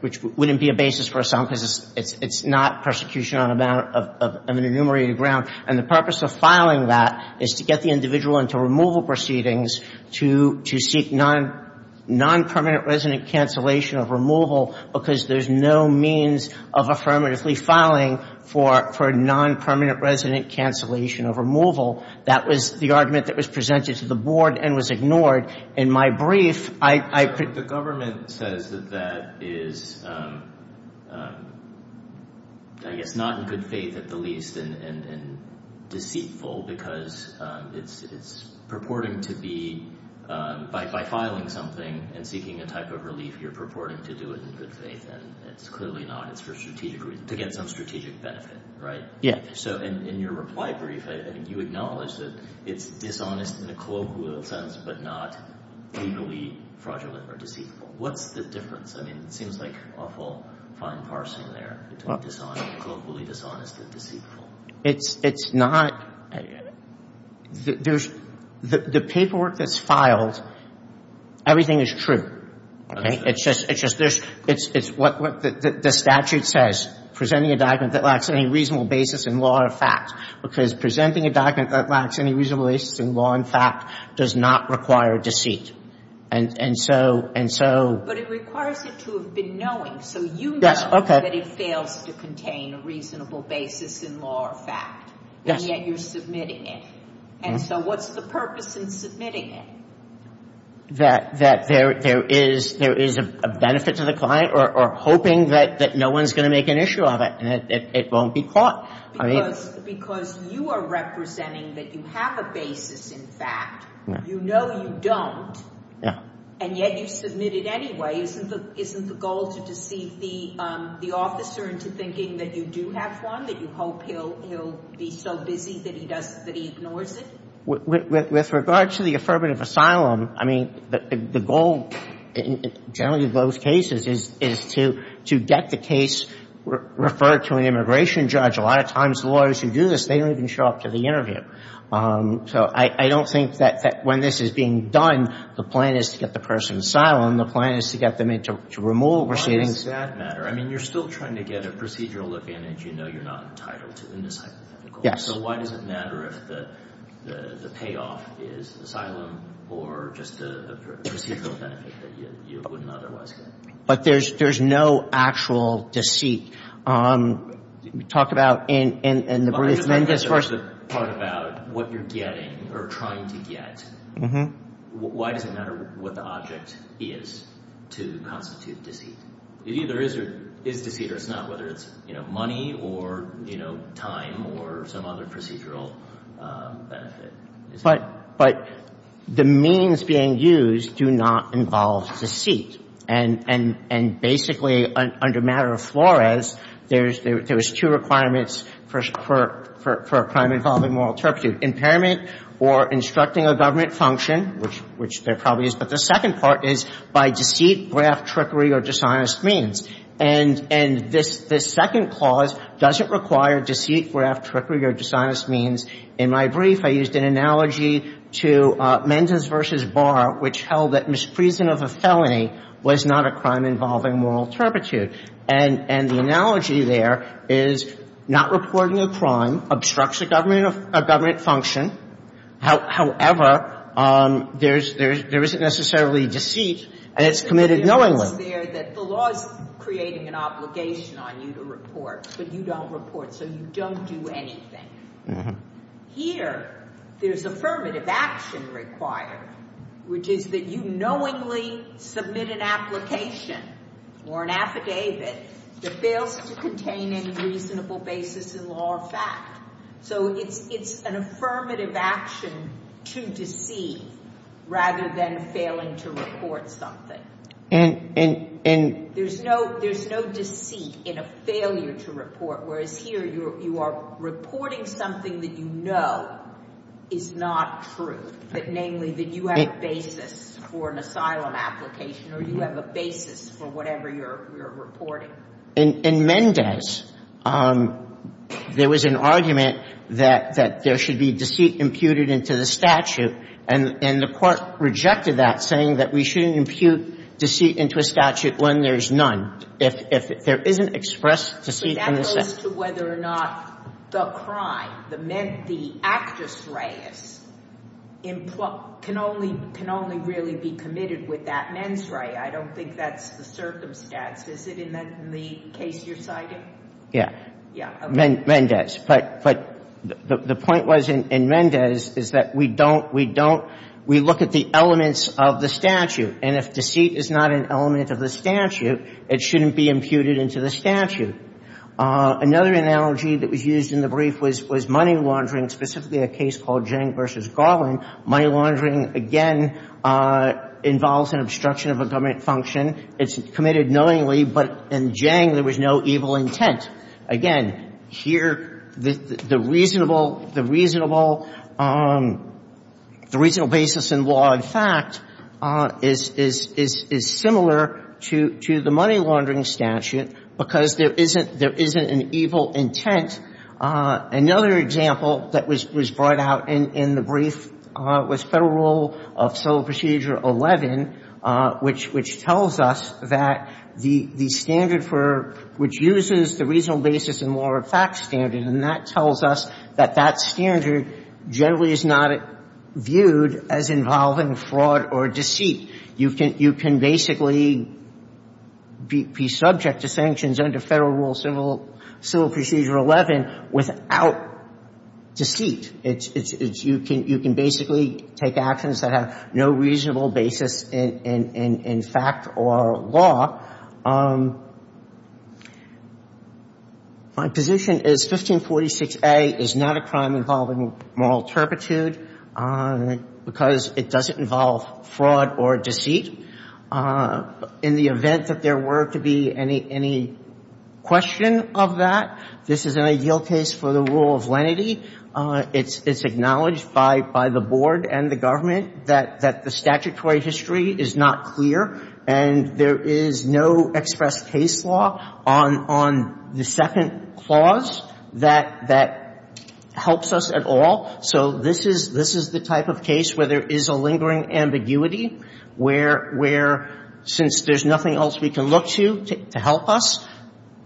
which wouldn't be a basis for asylum because it's, it's, it's not persecution on a matter of, of an enumerated ground. And the purpose of filing that is to get the individual into removal proceedings to, to seek non, non-permanent resident cancellation of removal because there's no means of affirmatively filing for, for non-permanent resident cancellation of removal. That was the argument that was presented to the board and was ignored. In my brief, I, I. The government says that that is, I guess, not in good faith at the least and, and, and deceitful because it's, it's purporting to be, by, by filing something and seeking a type of relief, you're purporting to do it in good faith. And it's clearly not. It's for strategic reasons, to get some strategic benefit, right? Yeah. So in, in your reply brief, I, I think you acknowledged that it's dishonest in a colloquial sense but not legally fraudulent or deceitful. What's the difference? I mean, it seems like awful fine parsing there between dishonest, colloquially dishonest and deceitful. It's, it's not, there's, the, the paperwork that's filed, everything is true. Okay. It's just, it's just, there's, it's, it's what, what the, the statute says, presenting a document that lacks any reasonable basis in law or fact. Because presenting a document that lacks any reasonable basis in law and fact does not require deceit. And, and so, and so. But it requires it to have been knowing. So you know. Yes, okay. That it fails to contain a reasonable basis in law or fact. Yes. And yet you're submitting it. And so what's the purpose in submitting it? That, that there, there is, there is a benefit to the client or, or hoping that, that no one's going to make an issue of it. And it, it, it won't be caught. Because, because you are representing that you have a basis in fact. You know you don't. Yeah. And yet you submit it anyway. Isn't the, isn't the goal to deceive the, the officer into thinking that you do have one? That you hope he'll, he'll be so busy that he does, that he ignores it? With, with, with regard to the affirmative asylum, I mean, the, the goal in generally those cases is, is to, to get the case referred to an immigration judge. A lot of times lawyers who do this, they don't even show up to the interview. So I, I don't think that, that when this is being done, the plan is to get the person asylum. The plan is to get them into, to remove proceedings. Why does that matter? I mean, you're still trying to get a procedural advantage. You know you're not entitled to in this hypothetical. Yes. So why does it matter if the, the, the payoff is asylum or just the, the procedural benefit that you, you wouldn't otherwise get? But there's, there's no actual deceit. We talk about in, in, in the brief. But I just want to get to the part about what you're getting or trying to get. Mm-hmm. Why does it matter what the object is to constitute deceit? It either is or, is deceit or it's not. Whether it's, you know, money or, you know, time or some other procedural benefit. But, but the means being used do not involve deceit. And, and, and basically under matter of Flores, there's, there's two requirements for, for, for a crime involving moral turpitude. Impairment or instructing a government function, which, which there probably is. But the second part is by deceit, graft, trickery or dishonest means. And, and this, this second clause doesn't require deceit, graft, trickery or dishonest means. In my brief, I used an analogy to Mendes v. Barr, which held that misprision of a felony was not a crime involving moral turpitude. And, and the analogy there is not reporting a crime obstructs a government, a government function. However, there's, there's, there isn't necessarily deceit and it's committed knowingly. There's a clause there that the law is creating an obligation on you to report, but you don't report. So you don't do anything. Here, there's affirmative action required, which is that you knowingly submit an application or an affidavit that fails to contain any reasonable basis in law or So it's, it's an affirmative action to deceive rather than failing to report something. And, and, and There's no, there's no deceit in a failure to report. Whereas here, you're, you are reporting something that you know is not true, that namely that you have a basis for an asylum application or you have a basis for whatever you're, you're reporting. In, in Mendes, there was an argument that, that there should be deceit imputed into the statute. And, and the court rejected that saying that we shouldn't impute deceit into a statute when there's none. If, if there isn't expressed deceit in the statute. But that goes to whether or not the crime, the, the actus reus can only, can only really be committed with that mens rea. I don't think that's the circumstance. Is it in the case you're citing? Yeah. Yeah. Mendes. Mendes. But, but the, the point was in, in Mendes is that we don't, we don't, we look at the elements of the statute. And if deceit is not an element of the statute, it shouldn't be imputed into the statute. Another analogy that was used in the brief was, was money laundering, specifically a case called Jang v. Garland. Money laundering, again, involves an obstruction of a government function. It's committed knowingly, but in Jang, there was no evil intent. Again, here, the, the reasonable, the reasonable, the reasonable basis in law and fact is, is, is, is similar to, to the money laundering statute because there isn't, there isn't an evil intent. Another example that was, was brought out in, in the brief was Federal Rule of Civil Procedure 11, which states that the, the reasonable basis in law and fact standard, and that tells us that that standard generally is not viewed as involving fraud or deceit. You can, you can basically be, be subject to sanctions under Federal Rule of Civil, Civil Procedure 11 without deceit. It's, it's, you can, you can basically take actions that have no reasonable basis in, in, in fact or law. My position is 1546A is not a crime involving moral turpitude because it doesn't involve fraud or deceit. In the event that there were to be any, any question of that, this is an ideal case for the rule of lenity. It's, it's acknowledged by, by the board and the government that, that the statutory history is not clear, and there is no express case law on, on the second clause that, that helps us at all. So this is, this is the type of case where there is a lingering ambiguity, where, where since there's nothing else we can look to, to help us,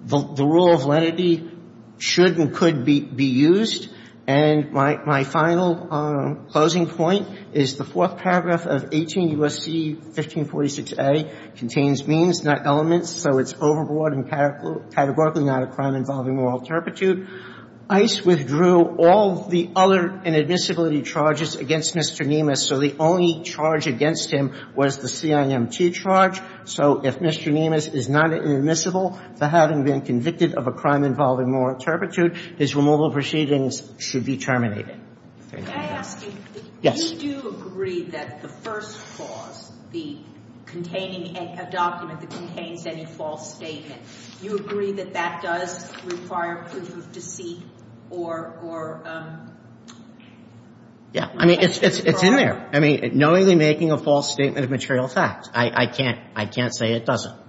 the, the rule of lenity should and could be, be used. And my, my final closing point is the fourth paragraph of 18 U.S.C. 1546A contains means, not elements, so it's overboard and categorically not a crime involving moral turpitude. ICE withdrew all the other inadmissibility charges against Mr. Niemus, so the only charge against him was the CIMT charge. So if Mr. Niemus is not inadmissible for having been convicted of a crime involving moral turpitude, his removal proceedings should be terminated. Thank you. Can I ask you? Yes. Do you agree that the first clause, the containing a, a document that contains any false statement, do you agree that that does require proof of deceit or, or? Yeah. I mean, it's, it's, it's in there. I mean, knowingly making a false statement of material facts. I, I can't, I can't say it doesn't.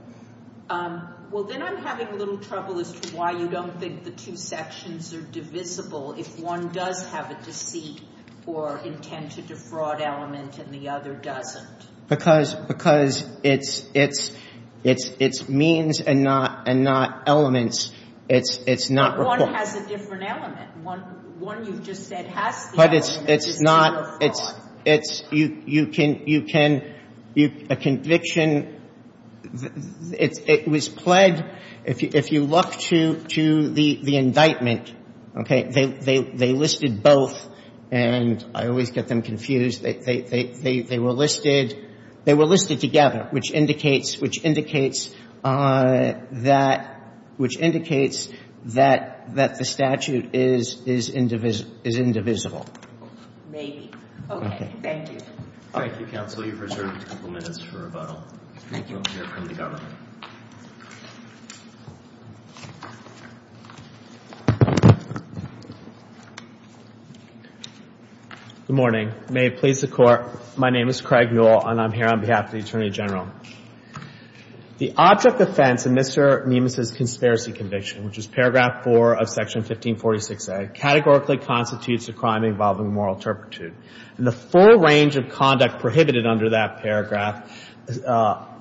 Well, then I'm having a little trouble as to why you don't think the two sections are divisible if one does have a deceit or intent to defraud element and the other doesn't. Because, because it's, it's, it's, it's means and not, and not elements. It's, it's not report. But one has a different element. One, one you just said has the element. But it's, it's not, it's, it's, you, you can, you can, you, a conviction, it's, it was pled, if you, if you look to, to the, the indictment, okay, they, they, they listed both, and I always get them confused. They, they, they, they were listed, they were listed together, which indicates, which indicates that, which indicates that, that the statute is, is indivisible, is indivisible. Maybe. Okay. Thank you. Thank you, counsel. I know you've reserved a couple minutes for rebuttal. Thank you on behalf of the government. Good morning. May it please the Court. My name is Craig Newell, and I'm here on behalf of the Attorney General. The object of offense in Mr. Niemus' conspiracy conviction, which is paragraph four of section 1546a, categorically constitutes a crime involving moral turpitude. And the full range of conduct prohibited under that paragraph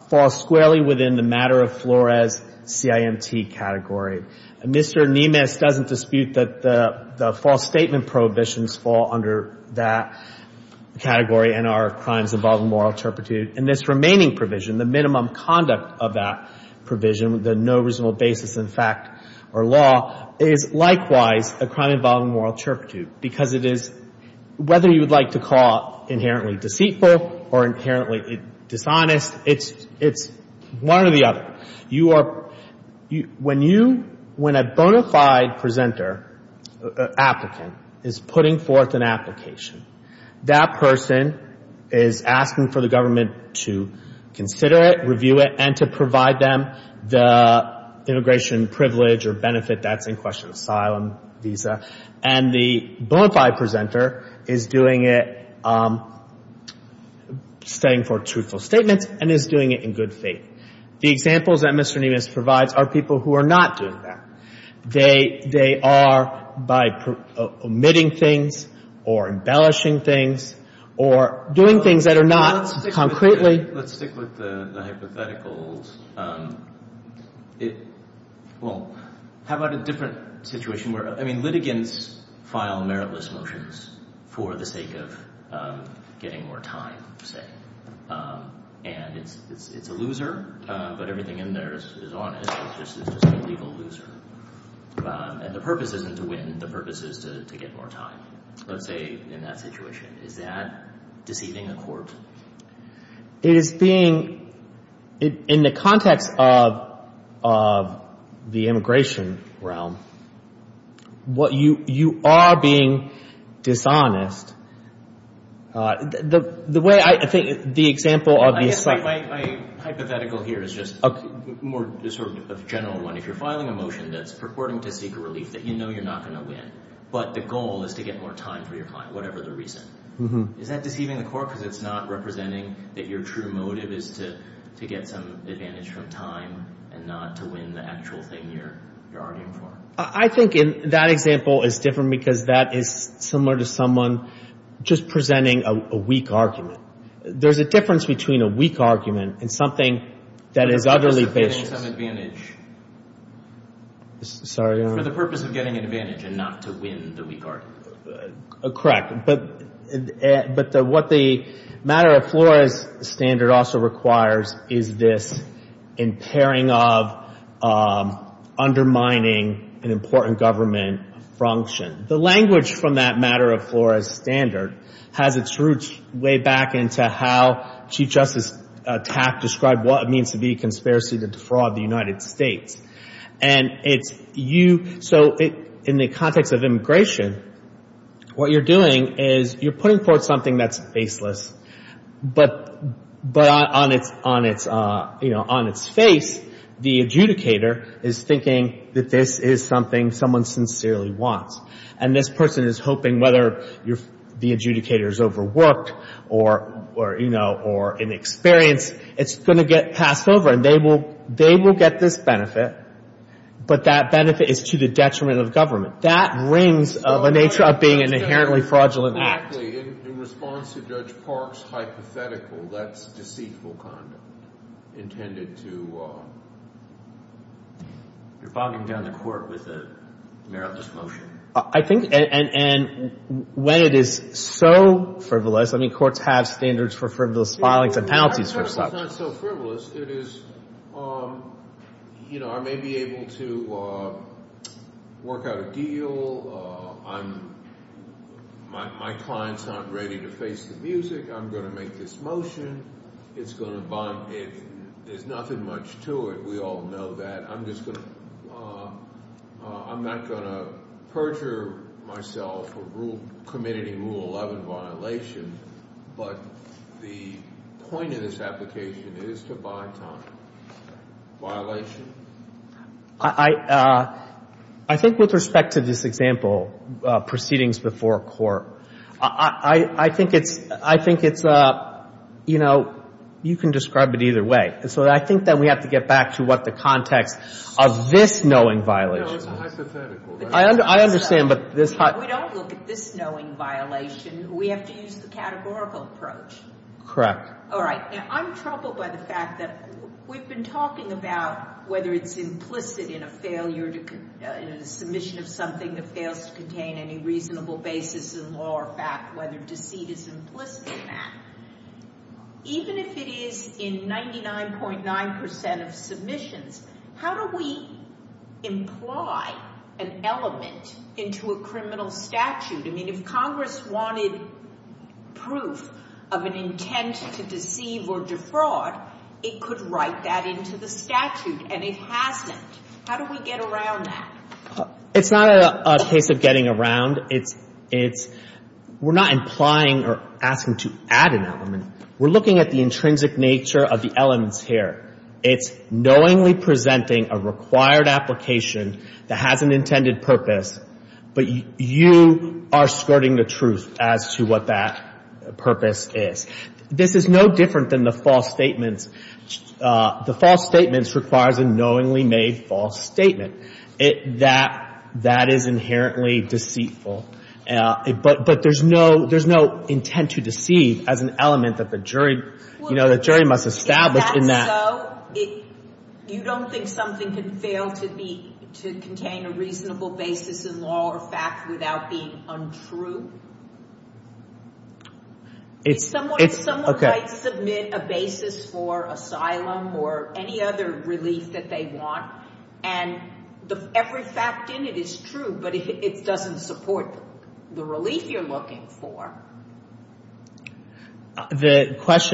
falls squarely within the matter of Flores CIMT category. Mr. Niemus doesn't dispute that the, the false statement prohibitions fall under that category and are crimes involving moral turpitude. And this remaining provision, the minimum conduct of that provision, the no reasonable basis in fact or law, is likewise a crime involving moral turpitude. Because it is, whether you would like to call inherently deceitful or inherently dishonest, it's, it's one or the other. You are, when you, when a bona fide presenter, applicant, is putting forth an application, that person is asking for the government to consider it, review it, and to provide them the immigration privilege or benefit that's in question, asylum, visa. And the bona fide presenter is doing it, stating for truthful statements and is doing it in good faith. The examples that Mr. Niemus provides are people who are not doing that. They, they are by omitting things or embellishing things or doing things that are not concretely. Let's stick with the hypotheticals. It, well, how about a different situation where, I mean, litigants file meritless motions for the sake of getting more time, say. And it's, it's, it's a loser, but everything in there is, is on it. It's just, it's just a legal loser. And the purpose isn't to win. The purpose is to, to get more time. Let's say in that situation. Is that deceiving the court? It is being, in the context of, of the immigration realm, what you, you are being dishonest. The, the way I, I think the example of the asylum. I guess my, my hypothetical here is just more sort of a general one. If you're filing a motion that's purporting to seek relief that you know you're not going to win, but the goal is to get more time for your client, whatever the reason. Is that deceiving the court because it's not representing that your true motive is to, to get some advantage from time and not to win the actual thing you're, you're arguing for? I think in that example it's different because that is similar to someone just presenting a, a weak argument. There's a difference between a weak argument and something that is utterly baseless. For the purpose of getting some advantage. Sorry. For the purpose of getting an advantage and not to win the weak argument. Correct. But, but what the matter of Flores standard also requires is this impairing of, undermining an important government function. The language from that matter of Flores standard has its roots way back into how Chief Justice Taft described what it means to be a conspiracy to defraud the United States. And it's you, so it, in the context of immigration, what you're doing is you're putting forth something that's baseless. But, but on its, on its, you know, on its face, the adjudicator is thinking that this is something someone sincerely wants. And this person is hoping whether you're, the adjudicator's overworked or, or, you know, or inexperienced, it's going to get passed over and they will, they will get this benefit. But that benefit is to the detriment of government. That rings of a nature of being an inherently fraudulent act. In response to Judge Park's hypothetical, that's deceitful conduct. You're bogging down the court with a meritless motion. I think, and, and when it is so frivolous, I mean courts have standards for frivolous filings and penalties for such. It's not so frivolous. It is, you know, I may be able to work out a deal. I'm, my, my client's not ready to face the music. I'm going to make this motion. It's going to bind, it, there's nothing much to it. We all know that. I'm just going to, I'm not going to perjure myself or rule, committing Rule 11 violation. But the point of this application is to buy time. Violation. I, I, I think with respect to this example, proceedings before court, I, I, I think it's, I think it's, you know, you can describe it either way. And so I think that we have to get back to what the context of this knowing violation is. No, it's hypothetical. I understand, but this hypothetical. We don't look at this knowing violation. We have to use the categorical approach. Correct. All right. Now, I'm troubled by the fact that we've been talking about whether it's implicit in a failure to, in a submission of something that fails to contain any reasonable basis in law or fact, whether deceit is implicit in that, even if it is in 99.9% of submissions, how do we imply an element into a criminal statute? I mean, if Congress wanted proof of an intent to deceive or defraud, it could write that into the statute, and it hasn't. How do we get around that? It's not a case of getting around. It's, it's, we're not implying or asking to add an element. We're looking at the intrinsic nature of the elements here. It's knowingly presenting a required application that has an intended purpose, but you are skirting the truth as to what that purpose is. This is no different than the false statements. The false statements requires a knowingly made false statement. That, that is inherently deceitful. But there's no, there's no intent to deceive as an element that the jury, you know, the jury must establish in that. You don't think something can fail to be, to contain a reasonable basis in law or fact without being untrue? It's, it's, okay. If someone might submit a basis for asylum or any other relief that they want, and every fact in it is true, but it doesn't support the relief you're looking for. The question...